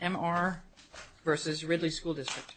M.R. v. Ridley School District M.R. v. Ridley School District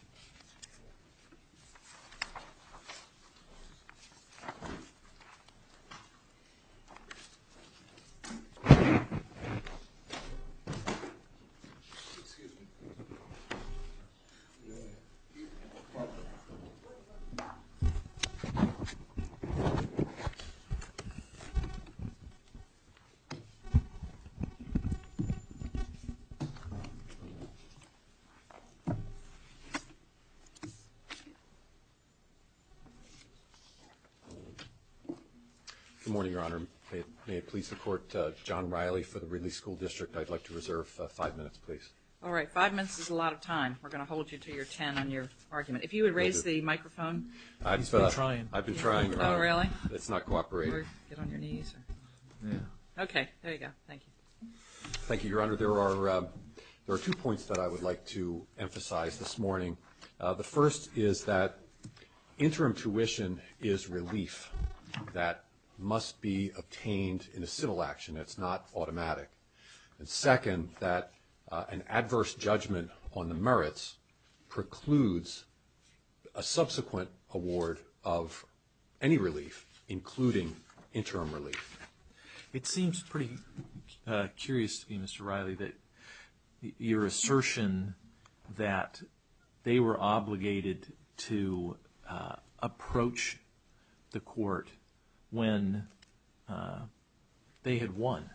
There are two points that I would like to emphasize this morning. The first is that interim tuition is relief that must be obtained in a civil action. It's not automatic. And second, that an adverse judgment on the merits precludes a subsequent award of any relief, including interim relief. It seems pretty curious to me, Mr. Riley, that your assertion that they were obligated to approach the court when they had won,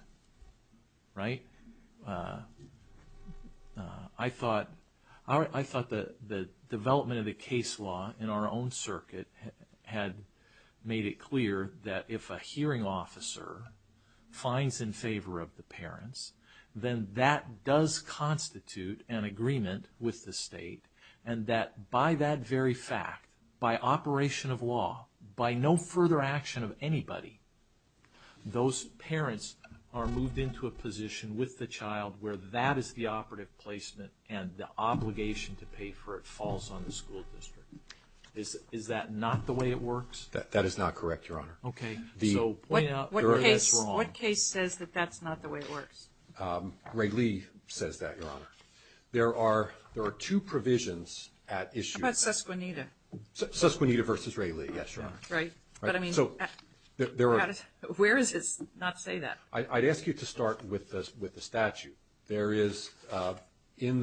right? I thought the development of the case law in our own circuit had made it clear that if a hearing officer finds in favor of the parents, then that does constitute an agreement with the state, and that by that very fact, by operation of law, by no further action of anybody, those parents are moved into a position with the child where that is the operative placement and the obligation to pay for it falls on the school district. Is that not the way it works? That is not correct, Your Honor. Okay. So, point out that that's wrong. What case says that that's not the way it works? Ray Lee says that, Your Honor. There are two provisions at issue. How about Susquenita? Susquenita v. Ray Lee, yes, Your Honor. Right. But, I mean, where is it not to say that? I'd ask you to start with the statute. There is, both in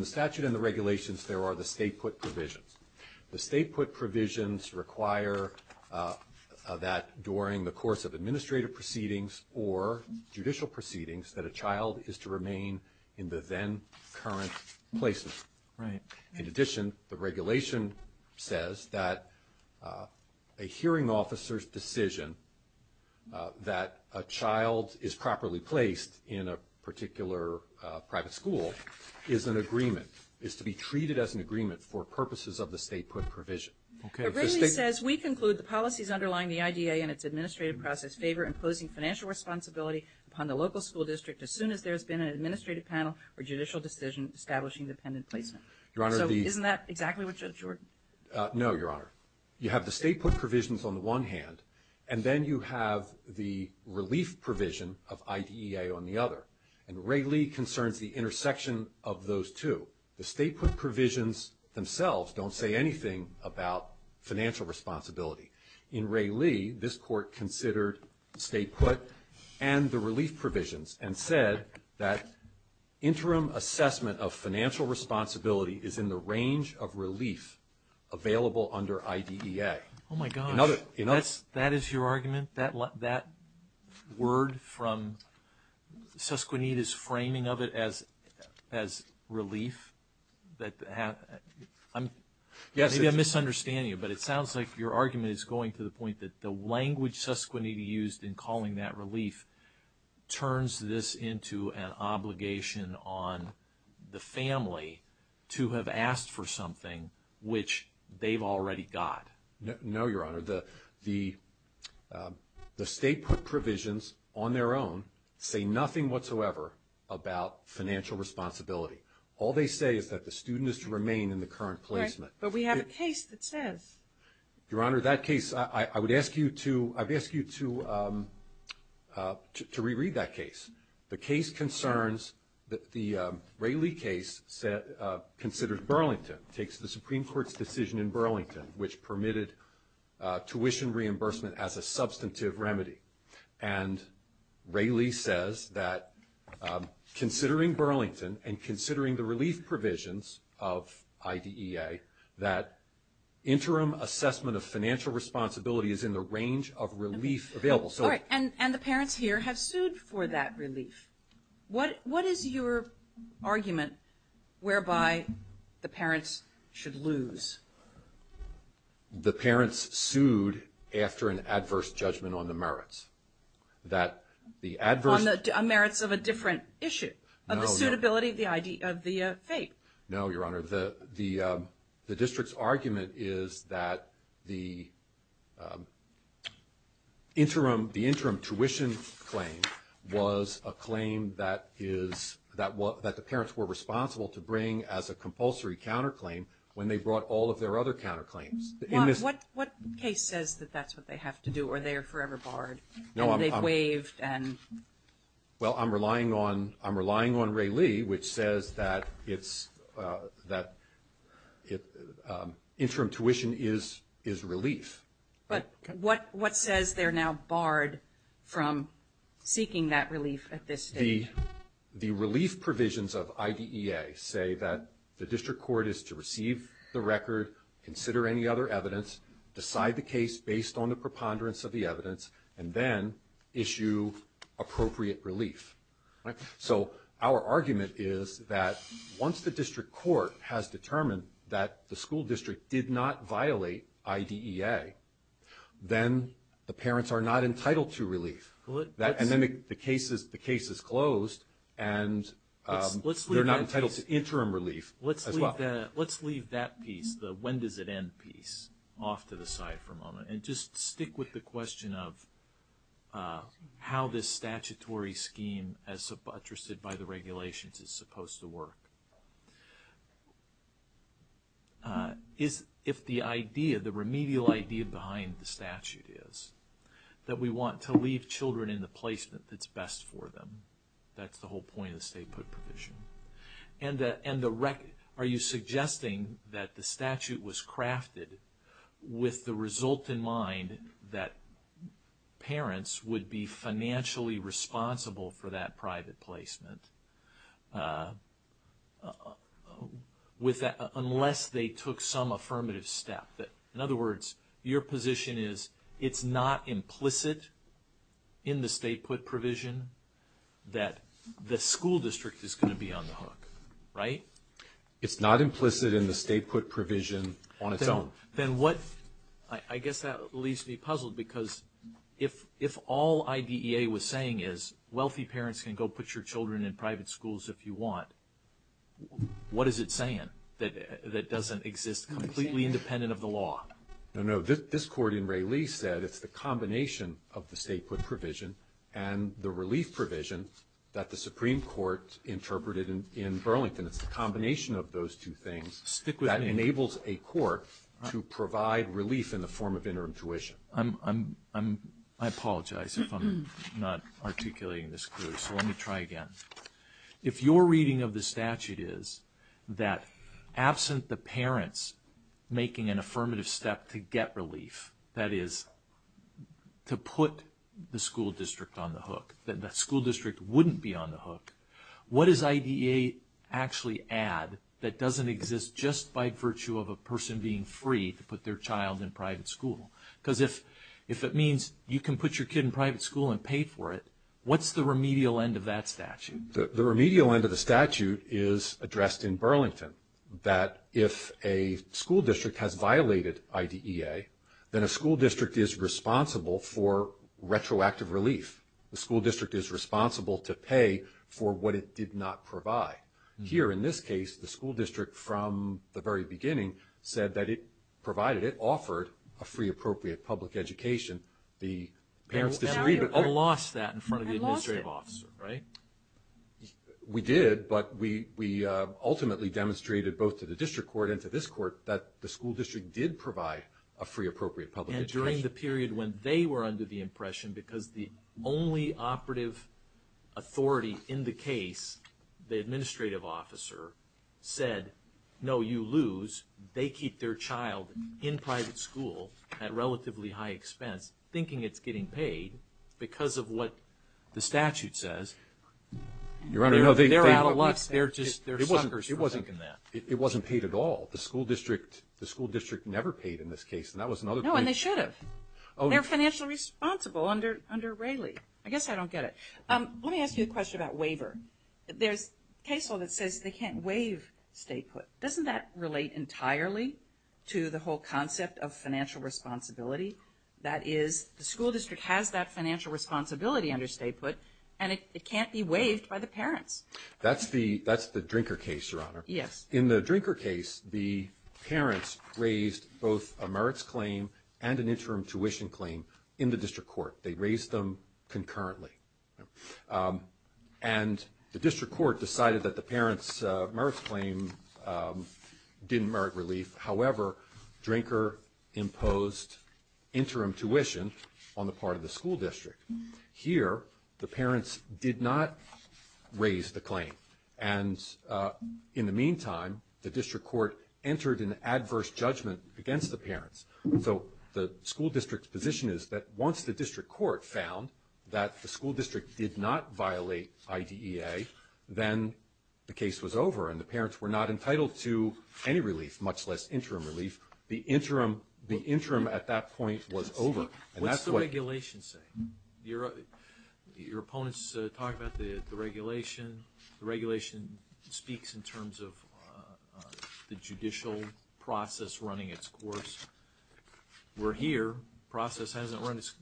the statute and the regulations, there are the state-put provisions. The state-put provisions require that during the course of administrative proceedings or judicial proceedings that a child is to remain in the then-current placement. Right. In addition, the regulation says that a hearing officer's decision that a child is properly placed in a particular private school is an agreement, is to be treated as an agreement for purposes of the state-put provision. Okay. But Ray Lee says, we conclude the policies underlying the IDA and its administrative process favor imposing financial responsibility upon the local school district as soon as there has been an administrative panel or judicial decision establishing dependent placement. Your Honor, the... So, isn't that exactly what you're... No, Your Honor. You have the state-put provisions on the one hand, and then you have the relief provision of IDEA on the other. And Ray Lee concerns the intersection of those two. The state-put provisions themselves don't say anything about financial responsibility. In Ray Lee, this Court considered state-put and the relief provisions and said that interim assessment of financial responsibility is in the range of relief available under IDEA. Oh, my gosh. Another... That is your argument? That word from Susquenita's framing of it as relief? Maybe I'm misunderstanding you, but it sounds like your argument is going to the point that the language Susquenita used in calling that relief turns this into an obligation on the family to have asked for something which they've already got. No, Your Honor. The state-put provisions on their own say nothing whatsoever about financial responsibility. All they say is that the student is to remain in the current placement. Right, but we have a case that says... Your Honor, that case, I would ask you to... I'd ask you to reread that case. The case concerns... The Ray Lee case considers Burlington, takes the Supreme Court's decision in Burlington, which permitted tuition reimbursement as a substantive remedy. And Ray Lee says that considering Burlington and considering the relief provisions of IDEA, that interim assessment of financial responsibility is in the range of relief available. All right, and the parents here have sued for that relief. What is your argument whereby the parents should lose? The parents sued after an adverse judgment on the merits. That the adverse... On the merits of a different issue, of the suitability of the FAPE. No, Your Honor. The district's argument is that the interim tuition claim was a claim that the parents were responsible to bring as a compulsory counterclaim when they brought all of their other counterclaims. What case says that that's what they have to do, or they are forever barred? No, I'm... And they've waived and... Well, I'm relying on Ray Lee, which says that interim tuition is relief. But what says they're now barred from seeking that relief at this stage? The relief provisions of IDEA say that the district court is to receive the record, consider any other evidence, decide the case based on the preponderance of the evidence, and then issue appropriate relief. So our argument is that once the district court has determined that the school district did not violate IDEA, then the parents are not entitled to relief. And then the case is closed, and they're not entitled to interim relief as well. Let's leave that piece, the when does it end piece, off to the side for a moment, and just stick with the question of how this statutory scheme, as suggested by the regulations, is supposed to work. If the idea, the remedial idea behind the statute is that we want to leave children in the placement that's best for them, that's the whole point of the state put provision. And are you suggesting that the statute was crafted with the result in mind that parents would be financially responsible for that private placement unless they took some affirmative step? In other words, your position is it's not implicit in the state put provision that the school district is going to be on the hook, right? It's not implicit in the state put provision on its own. Then what, I guess that leaves me puzzled because if all IDEA was saying is wealthy parents can go put your children in private schools if you want, what is it saying that doesn't exist completely independent of the law? No, no, this court in Ray Lee said it's the combination of the state put provision and the relief provision that the Supreme Court interpreted in Burlington. And it's the combination of those two things that enables a court to provide relief in the form of interim tuition. I apologize if I'm not articulating this clearly, so let me try again. If your reading of the statute is that absent the parents making an affirmative step to get relief, that is to put the school district on the hook, that the school district wouldn't be on the hook, what does IDEA actually add that doesn't exist just by virtue of a person being free to put their child in private school? Because if it means you can put your kid in private school and pay for it, what's the remedial end of that statute? The remedial end of the statute is addressed in Burlington. That if a school district has violated IDEA, then a school district is responsible for retroactive relief. The school district is responsible to pay for what it did not provide. Here in this case, the school district from the very beginning said that it provided, it offered a free appropriate public education. The parents disagreed. Now you've lost that in front of the administrative officer, right? We did, but we ultimately demonstrated both to the district court and to this court that the school district did provide a free appropriate public education. During the period when they were under the impression, because the only operative authority in the case, the administrative officer said, no, you lose, they keep their child in private school at relatively high expense, thinking it's getting paid because of what the statute says. They're out of luck. They're just suckers for thinking that. It wasn't paid at all. The school district never paid in this case. No, and they should have. They're financially responsible under Rayleigh. I guess I don't get it. Let me ask you a question about waiver. There's a case law that says they can't waive statehood. Doesn't that relate entirely to the whole concept of financial responsibility? That is, the school district has that financial responsibility under statehood, and it can't be waived by the parents. That's the drinker case, Your Honor. Yes. In the drinker case, the parents raised both a merits claim and an interim tuition claim in the district court. They raised them concurrently. And the district court decided that the parents' merits claim didn't merit relief. However, drinker imposed interim tuition on the part of the school district. And in the meantime, the district court entered an adverse judgment against the parents. So the school district's position is that once the district court found that the school district did not violate IDEA, then the case was over and the parents were not entitled to any relief, much less interim relief. The interim at that point was over. What's the regulation say? Your opponents talk about the regulation. The regulation speaks in terms of the judicial process running its course. We're here. The process hasn't run its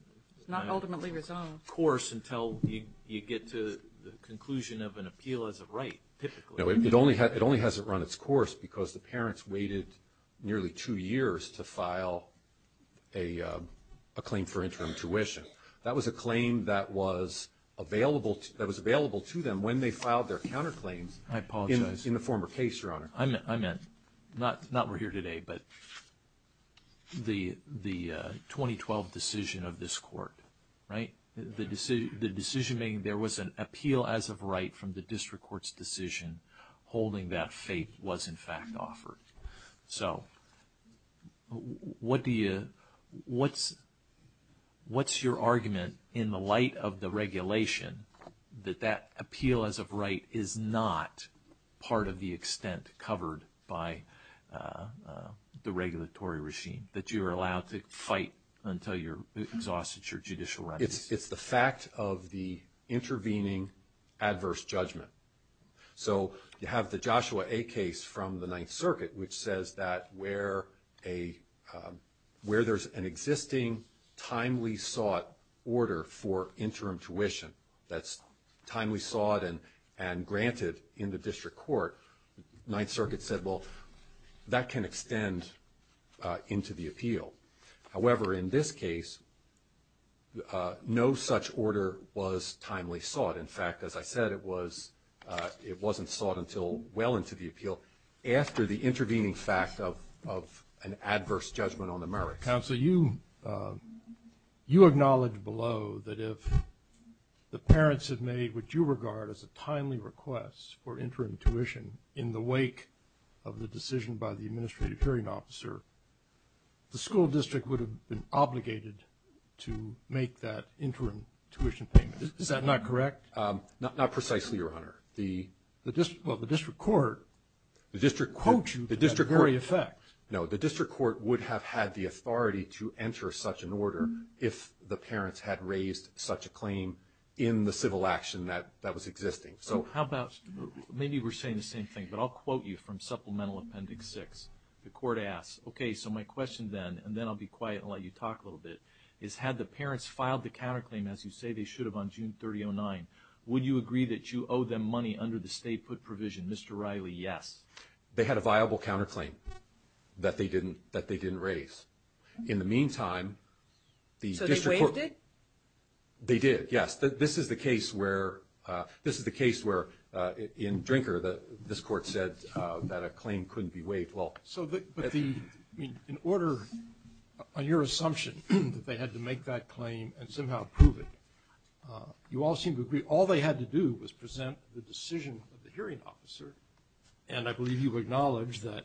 course until you get to the conclusion of an appeal as a right, typically. No, it only hasn't run its course because the parents waited nearly two years to file a claim for interim tuition. That was a claim that was available to them when they filed their counterclaims in the former case, Your Honor. I meant, not we're here today, but the 2012 decision of this court, right? The decision being there was an appeal as a right from the district court's decision holding that fate was in fact offered. So what's your argument in the light of the regulation that that appeal as a right is not part of the extent covered by the regulatory regime, that you're allowed to fight until you're exhausted your judicial rights? It's the fact of the intervening adverse judgment. So you have the Joshua A case from the Ninth Circuit, which says that where there's an existing, timely sought order for interim tuition that's timely sought and granted in the district court, Ninth Circuit said, well, that can extend into the appeal. However, in this case, no such order was timely sought. In fact, as I said, it wasn't sought until well into the appeal after the intervening fact of an adverse judgment on the merits. Counsel, you acknowledged below that if the parents have made what you regard as a timely request for interim tuition in the wake of the decision by the district court, the federal district would have been obligated to make that interim tuition payment. Is that not correct? Not precisely, Your Honor. The district court would have had the authority to enter such an order if the parents had raised such a claim in the civil action that was existing. Maybe we're saying the same thing, but I'll quote you from Supplemental Appendix 6. The court asks, okay, so my question then, and then I'll be quiet and let you talk a little bit, is had the parents filed the counterclaim as you say they should have on June 3009, would you agree that you owe them money under the stay put provision? Mr. Riley, yes. They had a viable counterclaim that they didn't raise. In the meantime, the district court So they waived it? They did, yes. This is the case where in Drinker this court said that a claim couldn't be waived. So in order, on your assumption that they had to make that claim and somehow prove it, you all seem to agree all they had to do was present the decision of the hearing officer, and I believe you acknowledge that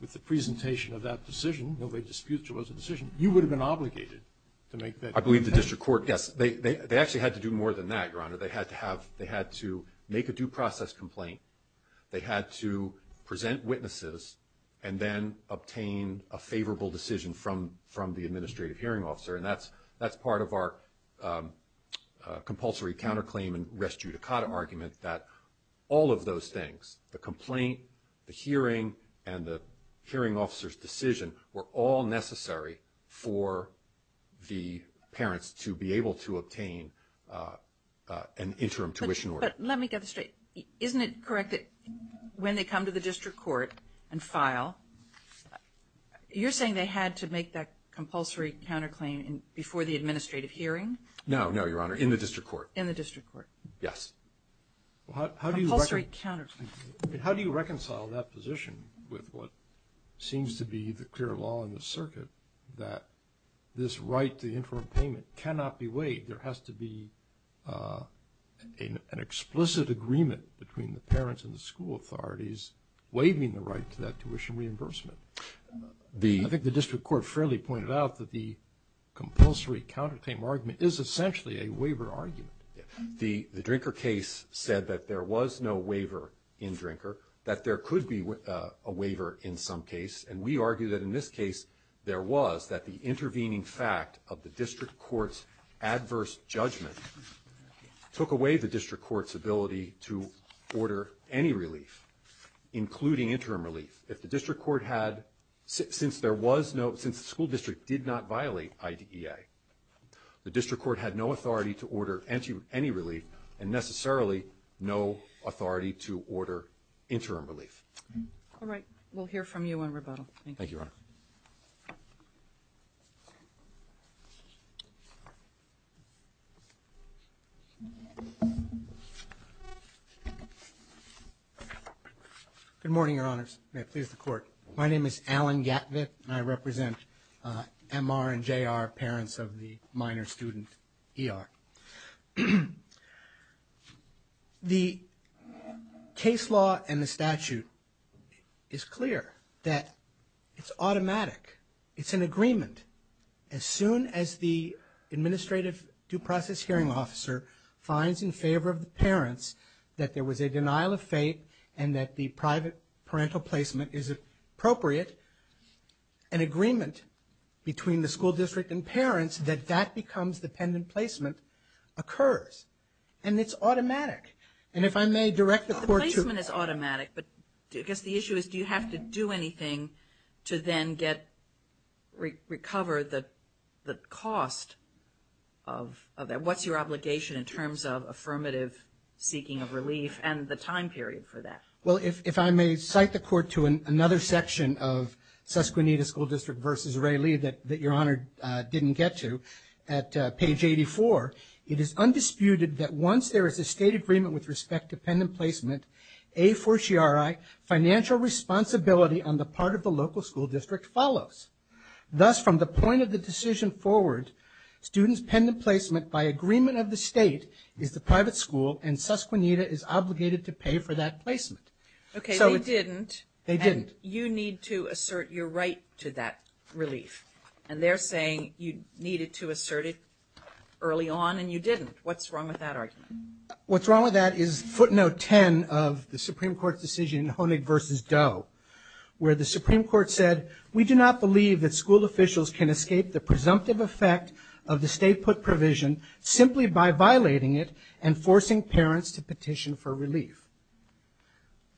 with the presentation of that decision, nobody disputes it was a decision, you would have been obligated to make that claim. I believe the district court, yes, they actually had to do more than that, Your Honor. They had to make a due process complaint. They had to present witnesses and then obtain a favorable decision from the administrative hearing officer, and that's part of our compulsory counterclaim and res judicata argument, that all of those things, the complaint, the hearing, and the hearing officer's decision were all necessary for the parents to be able to obtain an interim tuition order. But let me get this straight. Isn't it correct that when they come to the district court and file, you're saying they had to make that compulsory counterclaim before the administrative hearing? No, no, Your Honor, in the district court. In the district court. Yes. Compulsory counterclaim. How do you reconcile that position with what seems to be the clear law in the circuit, that this right to the interim payment cannot be waived? I think there has to be an explicit agreement between the parents and the school authorities waiving the right to that tuition reimbursement. I think the district court fairly pointed out that the compulsory counterclaim argument is essentially a waiver argument. The Drinker case said that there was no waiver in Drinker, that there could be a waiver in some case, and we argue that in this case there was, that the intervening fact of the district court's adverse judgment took away the district court's ability to order any relief, including interim relief. If the district court had, since there was no, since the school district did not violate IDEA, the district court had no authority to order any relief and necessarily no authority to order interim relief. All right. We'll hear from you on rebuttal. Thank you. Thank you, Your Honor. Good morning, Your Honors. May it please the Court. My name is Alan Gatvit, and I represent MR and JR, parents of the minor student, ER. The case law and the statute is clear that it's automatic. It's an agreement. As soon as the administrative due process hearing officer finds in favor of the parents that there was a denial of fate and that the private parental placement is appropriate, an agreement between the school district and parents that that becomes dependent placement occurs. And it's automatic. And if I may direct the Court to. The placement is automatic, but I guess the issue is do you have to do anything to then get, recover the cost of that? What's your obligation in terms of affirmative seeking of relief and the time period for that? Well, if I may cite the Court to another section of Susquehanna School District v. Ray Lee that Your Honor didn't get to, at page 84, it is undisputed that once there is a state agreement with respect to dependent placement, a fortiori financial responsibility on the part of the local school district follows. Thus, from the point of the decision forward, student's dependent placement by agreement of the state is the private school and Susquehanna is obligated to pay for that placement. Okay, they didn't. They didn't. And you need to assert your right to that relief. And they're saying you needed to assert it early on and you didn't. What's wrong with that argument? What's wrong with that is footnote 10 of the Supreme Court's decision, Honig v. Doe, where the Supreme Court said, we do not believe that school officials can escape the presumptive effect of the state put provision simply by violating it and forcing parents to petition for relief.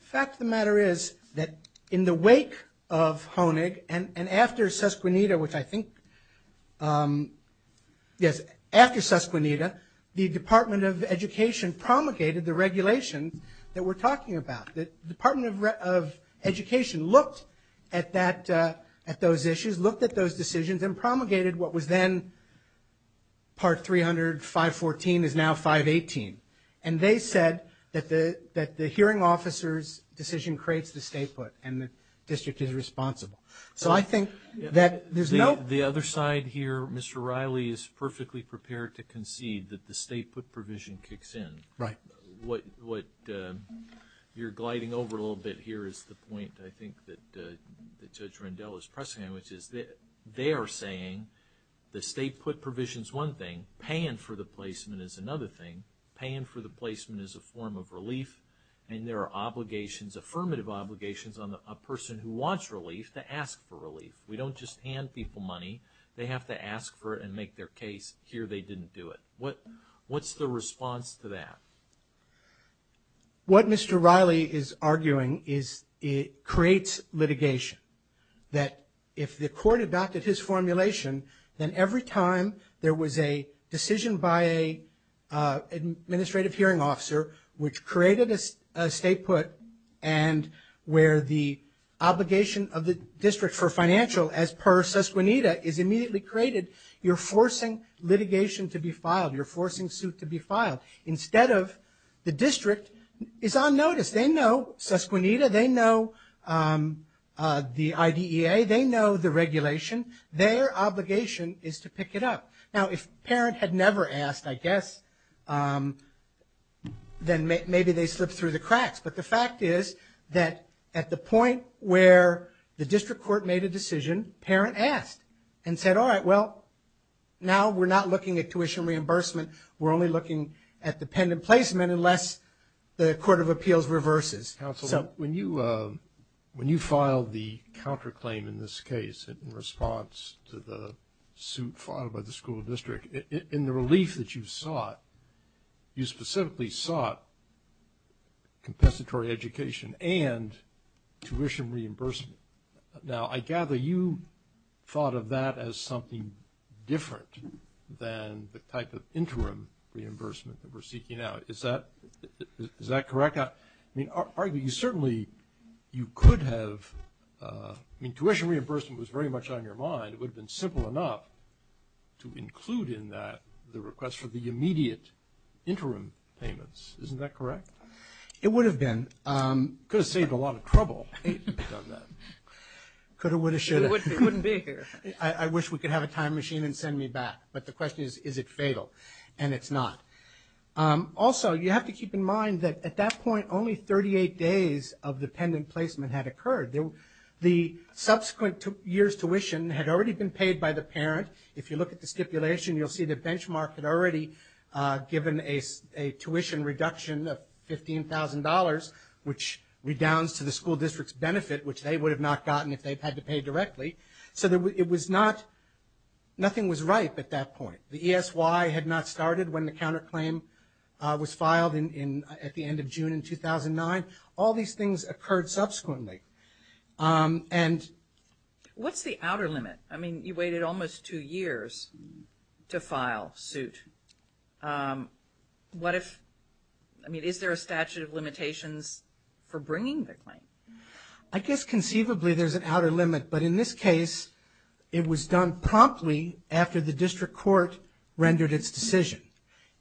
The fact of the matter is that in the wake of Honig and after Susquehanna, which I think, yes, after Susquehanna, the Department of Education promulgated the regulations that we're talking about. The Department of Education looked at those issues, looked at those decisions, and promulgated what was then Part 300, 514 is now 518. And they said that the hearing officer's decision creates the state put and the district is responsible. So I think that there's no – The other side here, Mr. Riley, is perfectly prepared to concede that the state put provision kicks in. Right. What you're gliding over a little bit here is the point I think that Judge Rendell is pressing on, which is they are saying the state put provision is one thing. Paying for the placement is another thing. Paying for the placement is a form of relief. And there are obligations, affirmative obligations, on a person who wants relief to ask for relief. We don't just hand people money. They have to ask for it and make their case. Here they didn't do it. What's the response to that? What Mr. Riley is arguing is it creates litigation. That if the court adopted his formulation, then every time there was a decision by an administrative hearing officer which created a state put and where the obligation of the district for financial as per susquenita is immediately created, you're forcing litigation to be filed. You're forcing suit to be filed. Instead of the district is on notice. They know susquenita. They know the IDEA. They know the regulation. Their obligation is to pick it up. Now, if parent had never asked, I guess, then maybe they slipped through the cracks. But the fact is that at the point where the district court made a decision, parent asked and said, all right, well, now we're not looking at tuition reimbursement. We're only looking at dependent placement unless the court of appeals reverses. Counsel, when you filed the counterclaim in this case in response to the suit filed by the school district, in the relief that you sought, you specifically sought compensatory education and tuition reimbursement. Now, I gather you thought of that as something different than the type of interim reimbursement that we're seeking now. Is that correct? I mean, certainly you could have ‑‑ I mean, tuition reimbursement was very much on your mind. It would have been simple enough to include in that the request for the immediate interim payments. Isn't that correct? It would have been. Could have saved a lot of trouble. Could have, would have, should have. It wouldn't be here. I wish we could have a time machine and send me back. But the question is, is it fatal? And it's not. Also, you have to keep in mind that at that point only 38 days of dependent placement had occurred. The subsequent year's tuition had already been paid by the parent. If you look at the stipulation, you'll see the benchmark had already given a tuition reduction of $15,000, which redounds to the school district's benefit, which they would have not gotten if they had to pay directly. So it was not ‑‑ nothing was ripe at that point. The ESY had not started when the counterclaim was filed at the end of June in 2009. All these things occurred subsequently. And ‑‑ What's the outer limit? I mean, you waited almost two years to file suit. What if, I mean, is there a statute of limitations for bringing the claim? I guess conceivably there's an outer limit. But in this case, it was done promptly after the district court rendered its decision.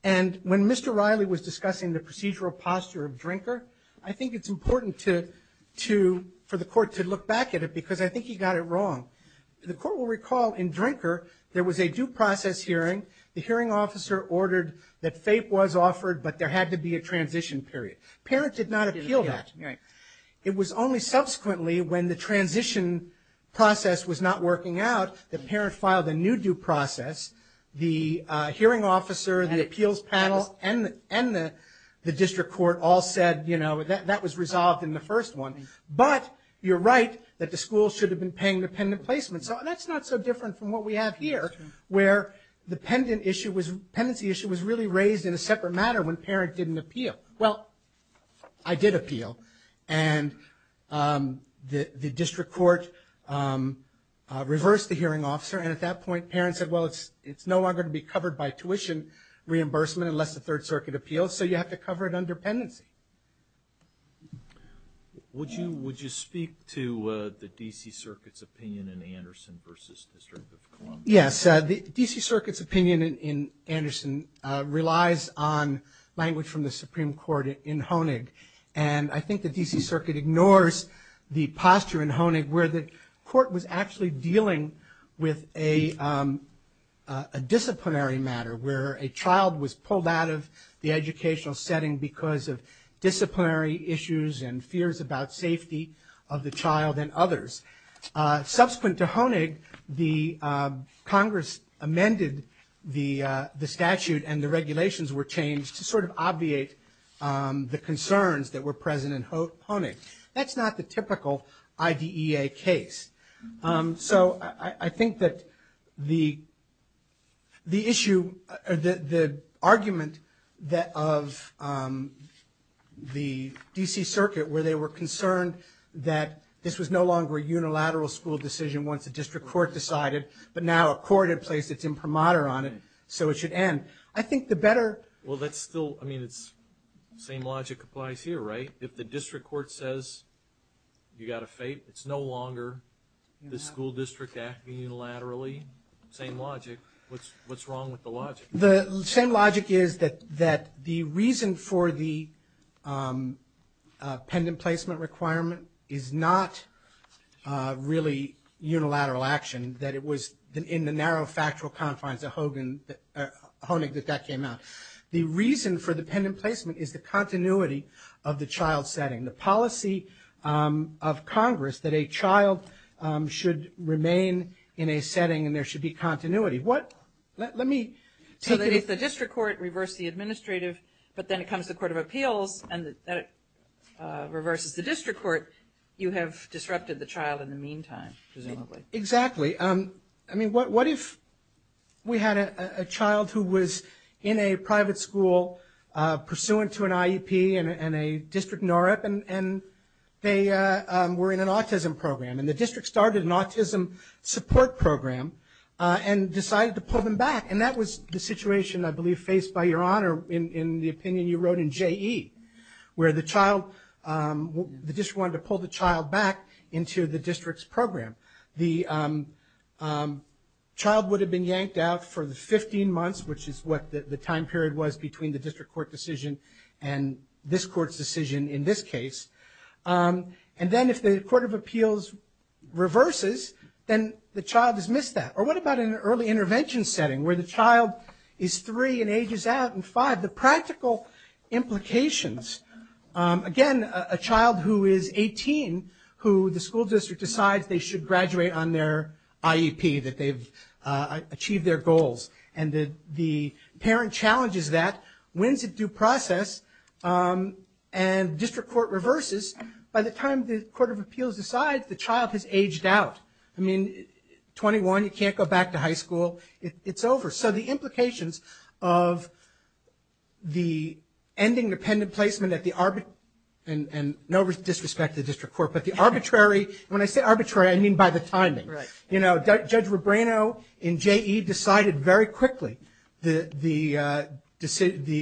And when Mr. Riley was discussing the procedural posture of Drinker, I think it's important to, for the court to look back at it because I think he got it wrong. The court will recall in Drinker there was a due process hearing. The hearing officer ordered that FAPE was offered, but there had to be a transition period. Parent did not appeal that. It was only subsequently when the transition process was not working out that parent filed a new due process. The hearing officer, the appeals panel, and the district court all said, you know, that was resolved in the first one. But you're right that the school should have been paying the pendent placement. So that's not so different from what we have here where the pendency issue was really raised in a separate matter when parent didn't appeal. Well, I did appeal. And the district court reversed the hearing officer. And at that point, parent said, well, it's no longer going to be covered by tuition reimbursement unless the Third Circuit appeals. So you have to cover it under pendency. Would you speak to the D.C. Circuit's opinion in Anderson v. District of Columbia? Yes. The D.C. Circuit's opinion in Anderson relies on language from the Supreme Court in Honig. And I think the D.C. Circuit ignores the posture in Honig where the court was actually dealing with a disciplinary matter, where a child was pulled out of the educational setting because of disciplinary issues and fears about safety of the child and others. Subsequent to Honig, Congress amended the statute and the regulations were changed to sort of obviate the concerns that were present in Honig. That's not the typical IDEA case. So I think that the issue or the argument of the D.C. Circuit where they were concerned that this was no longer a unilateral school decision once the district court decided, but now a court had placed its imprimatur on it, so it should end. I think the better- Well, that's still, I mean, it's the same logic applies here, right? If the district court says you got a fate, it's no longer the school district acting unilaterally, same logic. What's wrong with the logic? The same logic is that the reason for the pendant placement requirement is not really unilateral action, that it was in the narrow factual confines of Honig that that came out. The reason for the pendant placement is the continuity of the child setting, the policy of Congress that a child should remain in a setting and there should be continuity. Let me take it- So if the district court reversed the administrative, but then it comes to court of appeals, and then it reverses the district court, you have disrupted the child in the meantime, presumably. Exactly. Exactly. I mean, what if we had a child who was in a private school pursuant to an IEP and a district NOREP, and they were in an autism program, and the district started an autism support program and decided to pull them back, and that was the situation, I believe, faced by Your Honor in the opinion you wrote in J.E., where the district wanted to pull the child back into the district's program. The child would have been yanked out for the 15 months, which is what the time period was between the district court decision and this court's decision in this case. And then if the court of appeals reverses, then the child has missed that. Or what about in an early intervention setting where the child is three and ages out and five? The practical implications. Again, a child who is 18 who the school district decides they should graduate on their IEP, that they've achieved their goals, and the parent challenges that. When is it due process? And district court reverses. By the time the court of appeals decides, the child has aged out. I mean, 21, you can't go back to high school. It's over. So the implications of the ending dependent placement at the arbitrary and no disrespect to the district court, but the arbitrary. When I say arbitrary, I mean by the timing. You know, Judge Rebrano in J.E. decided very quickly the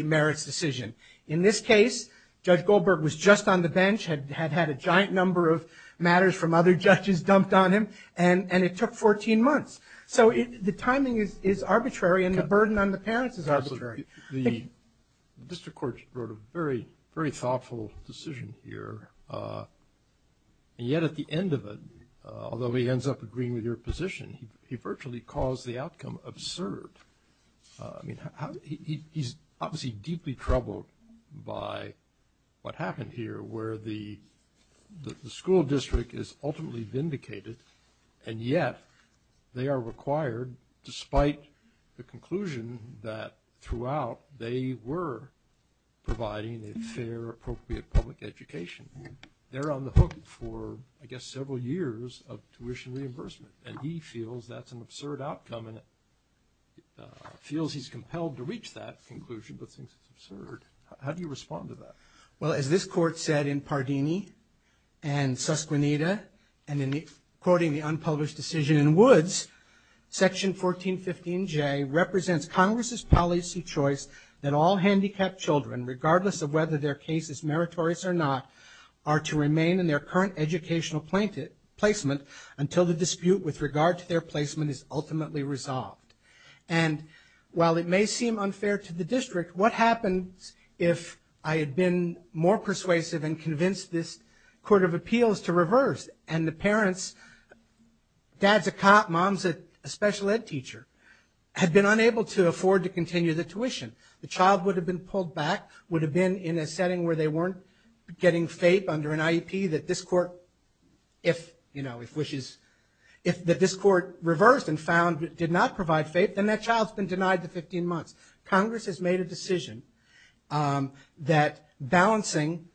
merits decision. In this case, Judge Goldberg was just on the bench, had had a giant number of matters from other judges dumped on him, and it took 14 months. So the timing is arbitrary, and the burden on the parents is arbitrary. Absolutely. The district court wrote a very, very thoughtful decision here, and yet at the end of it, although he ends up agreeing with your position, he virtually calls the outcome absurd. I mean, he's obviously deeply troubled by what happened here where the school district is ultimately vindicated, and yet they are required, despite the conclusion that throughout, they were providing a fair, appropriate public education. They're on the hook for, I guess, several years of tuition reimbursement, and he feels that's an absurd outcome and feels he's compelled to reach that conclusion, but thinks it's absurd. How do you respond to that? Well, as this court said in Pardini and Susquenita, and in quoting the unpublished decision in Woods, Section 1415J represents Congress's policy choice that all handicapped children, regardless of whether their case is meritorious or not, are to remain in their current educational placement until the dispute with regard to their placement is ultimately resolved. And while it may seem unfair to the district, what happens if I had been more persuasive and convinced this court of appeals to reverse and the parents, dad's a cop, mom's a special ed teacher, had been unable to afford to continue the tuition? The child would have been pulled back, would have been in a setting where they weren't getting fape under an IEP that this court, if, you know, if wishes, if this court reversed and found it did not provide fape, then that child's been denied the 15 months. Congress has made a decision that balancing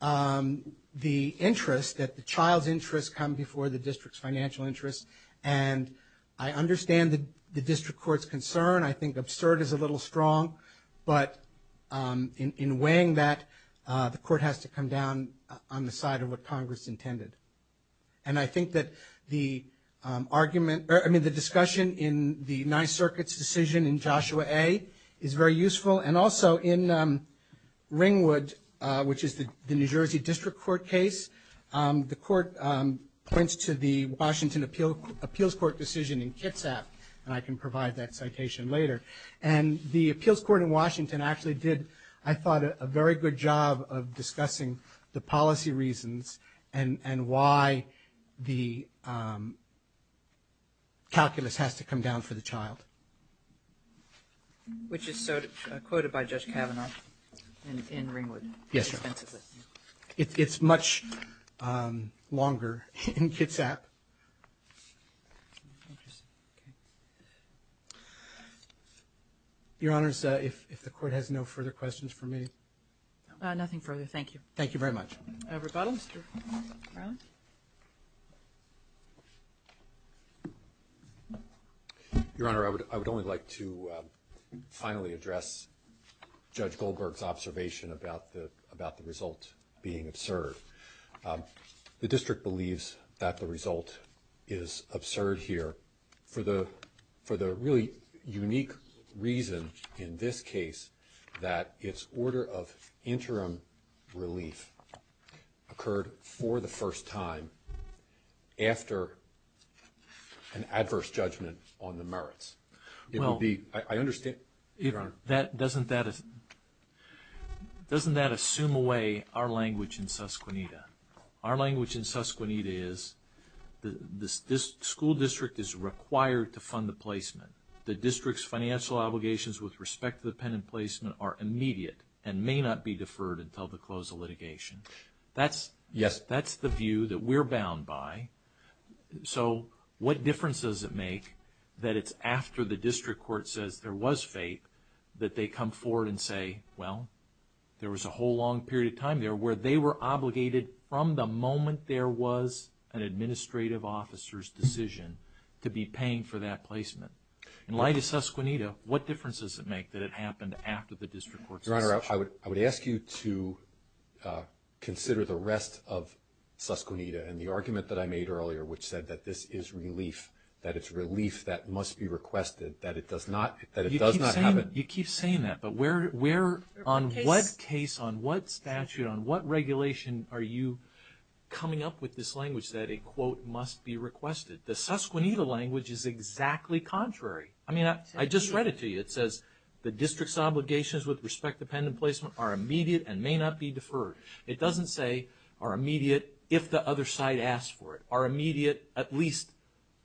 the interest, that the child's interests come before the district's financial interests, and I understand the district court's concern. I think absurd is a little strong, but in weighing that the court has to come down on the side of what Congress intended. And I think that the argument, I mean, the discussion in the Ninth Circuit's decision in Joshua A. is very useful. And also in Ringwood, which is the New Jersey District Court case, the court points to the Washington Appeals Court decision in Kitsap, and I can provide that citation later. And the Appeals Court in Washington actually did, I thought, a very good job of discussing the policy reasons and why the calculus has to come down for the child. Which is quoted by Judge Kavanaugh in Ringwood. Yes, sir. It's much longer in Kitsap. Interesting. Okay. Your Honors, if the court has no further questions for me. Nothing further. Thank you. Thank you very much. Rebuttal, Mr. Brown. Your Honor, I would only like to finally address Judge Goldberg's observation about the result being absurd. The district believes that the result is absurd here for the really unique reason in this case that its order of interim relief occurred for the first time after an adverse judgment on the merits. It would be, I understand. Doesn't that assume away our language in susquenita? Our language in susquenita is this school district is required to fund the placement. The district's financial obligations with respect to the pen and placement are immediate and may not be deferred until the close of litigation. That's the view that we're bound by. So what difference does it make that it's after the district court says there was fate that they come forward and say, well, there was a whole long period of time there where they were obligated from the moment there was an administrative officer's decision to be paying for that placement? In light of susquenita, what difference does it make that it happened after the district court's decision? Your Honor, I would ask you to consider the rest of susquenita and the argument that I made earlier which said that this is relief, that it's relief that must be requested, that it does not happen. You keep saying that, but where, on what case, on what statute, on what regulation are you coming up with this language that a quote must be requested? The susquenita language is exactly contrary. I mean, I just read it to you. It says the district's obligations with respect to pen and placement are immediate and may not be deferred. It doesn't say are immediate if the other side asks for it. Are immediate at least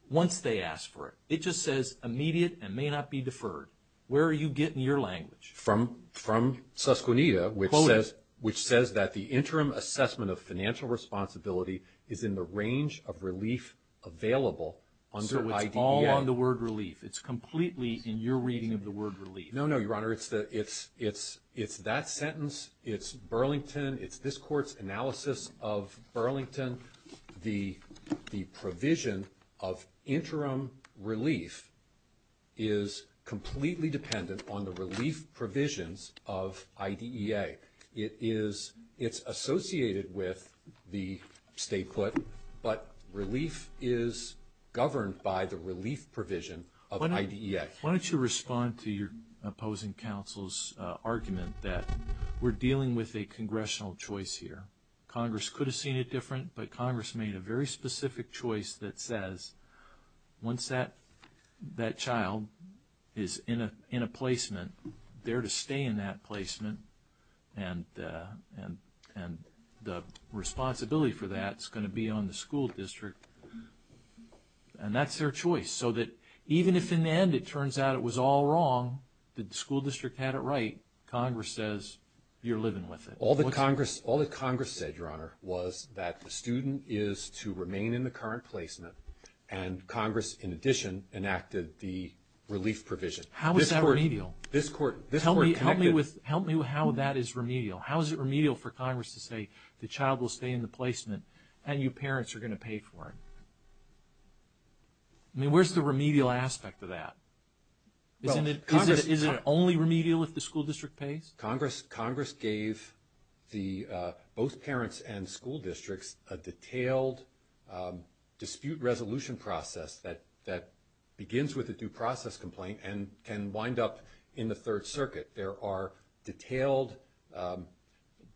once they ask for it. It just says immediate and may not be deferred. Where are you getting your language? From susquenita, which says that the interim assessment of financial responsibility is in the range of relief available under IDEA. So it's all on the word relief. It's completely in your reading of the word relief. No, no, Your Honor. It's that sentence. It's Burlington. It's this court's analysis of Burlington. The provision of interim relief is completely dependent on the relief provisions of IDEA. It's associated with the state court, but relief is governed by the relief provision of IDEA. Why don't you respond to your opposing counsel's argument that we're dealing with a congressional choice here. Congress could have seen it different, but Congress made a very specific choice that says once that child is in a placement, they're to stay in that placement and the responsibility for that is going to be on the school district. And that's their choice. So that even if in the end it turns out it was all wrong, the school district had it right, Congress says you're living with it. All that Congress said, Your Honor, was that the student is to remain in the current placement and Congress, in addition, enacted the relief provision. How is that remedial? Help me how that is remedial. How is it remedial for Congress to say the child will stay in the placement and you parents are going to pay for it? I mean, where's the remedial aspect of that? Isn't it only remedial if the school district pays? Congress gave both parents and school districts a detailed dispute resolution process that begins with a due process complaint and can wind up in the Third Circuit. There are detailed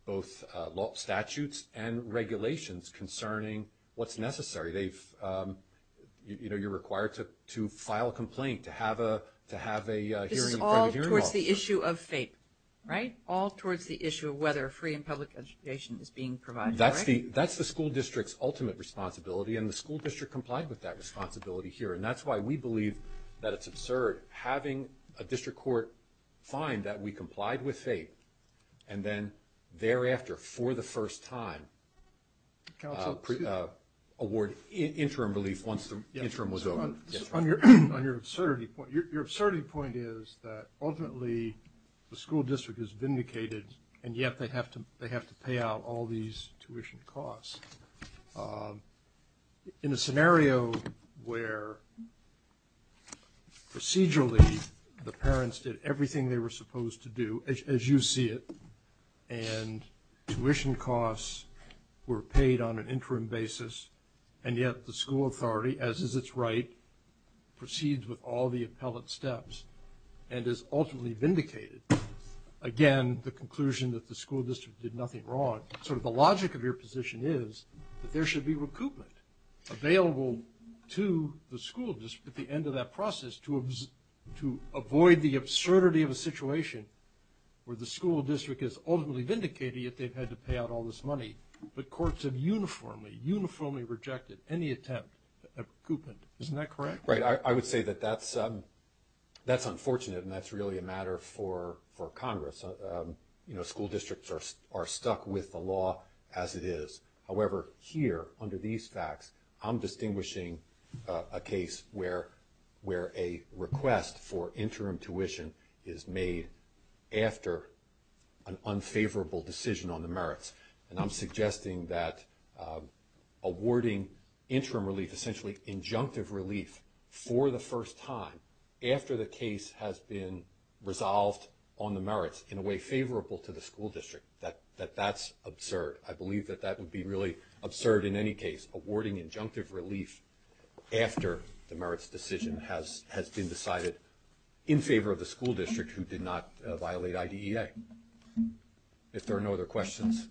both statutes and regulations concerning what's necessary. You know, you're required to file a complaint to have a hearing. All towards the issue of fate, right? All towards the issue of whether free and public education is being provided, right? That's the school district's ultimate responsibility, and the school district complied with that responsibility here. And that's why we believe that it's absurd having a district court find that we complied with fate and then thereafter for the first time award interim relief once the interim was over. On your absurdity point, your absurdity point is that ultimately the school district is vindicated and yet they have to pay out all these tuition costs. In a scenario where procedurally the parents did everything they were supposed to do, as you see it, and tuition costs were paid on an interim basis, and yet the school authority, as is its right, proceeds with all the appellate steps and is ultimately vindicated, again, the conclusion that the school district did nothing wrong, sort of the logic of your position is that there should be recoupment available to the school district at the end of that process to avoid the absurdity of a situation where the school district is ultimately vindicated yet they've had to pay out all this money, but courts have uniformly, uniformly rejected any attempt at recoupment. Isn't that correct? Right. I would say that that's unfortunate, and that's really a matter for Congress. You know, school districts are stuck with the law as it is. However, here, under these facts, I'm distinguishing a case where a request for interim tuition is made after an unfavorable decision on the merits, and I'm suggesting that awarding interim relief, essentially injunctive relief, for the first time, after the case has been resolved on the merits in a way favorable to the school district, that that's absurd. I believe that that would be really absurd in any case, awarding injunctive relief after the merits decision has been decided in favor of the school district who did not violate IDEA. If there are no other questions,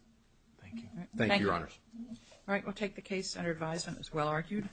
thank you. Thank you, Your Honors. All right, we'll take the case under advisement as well argued.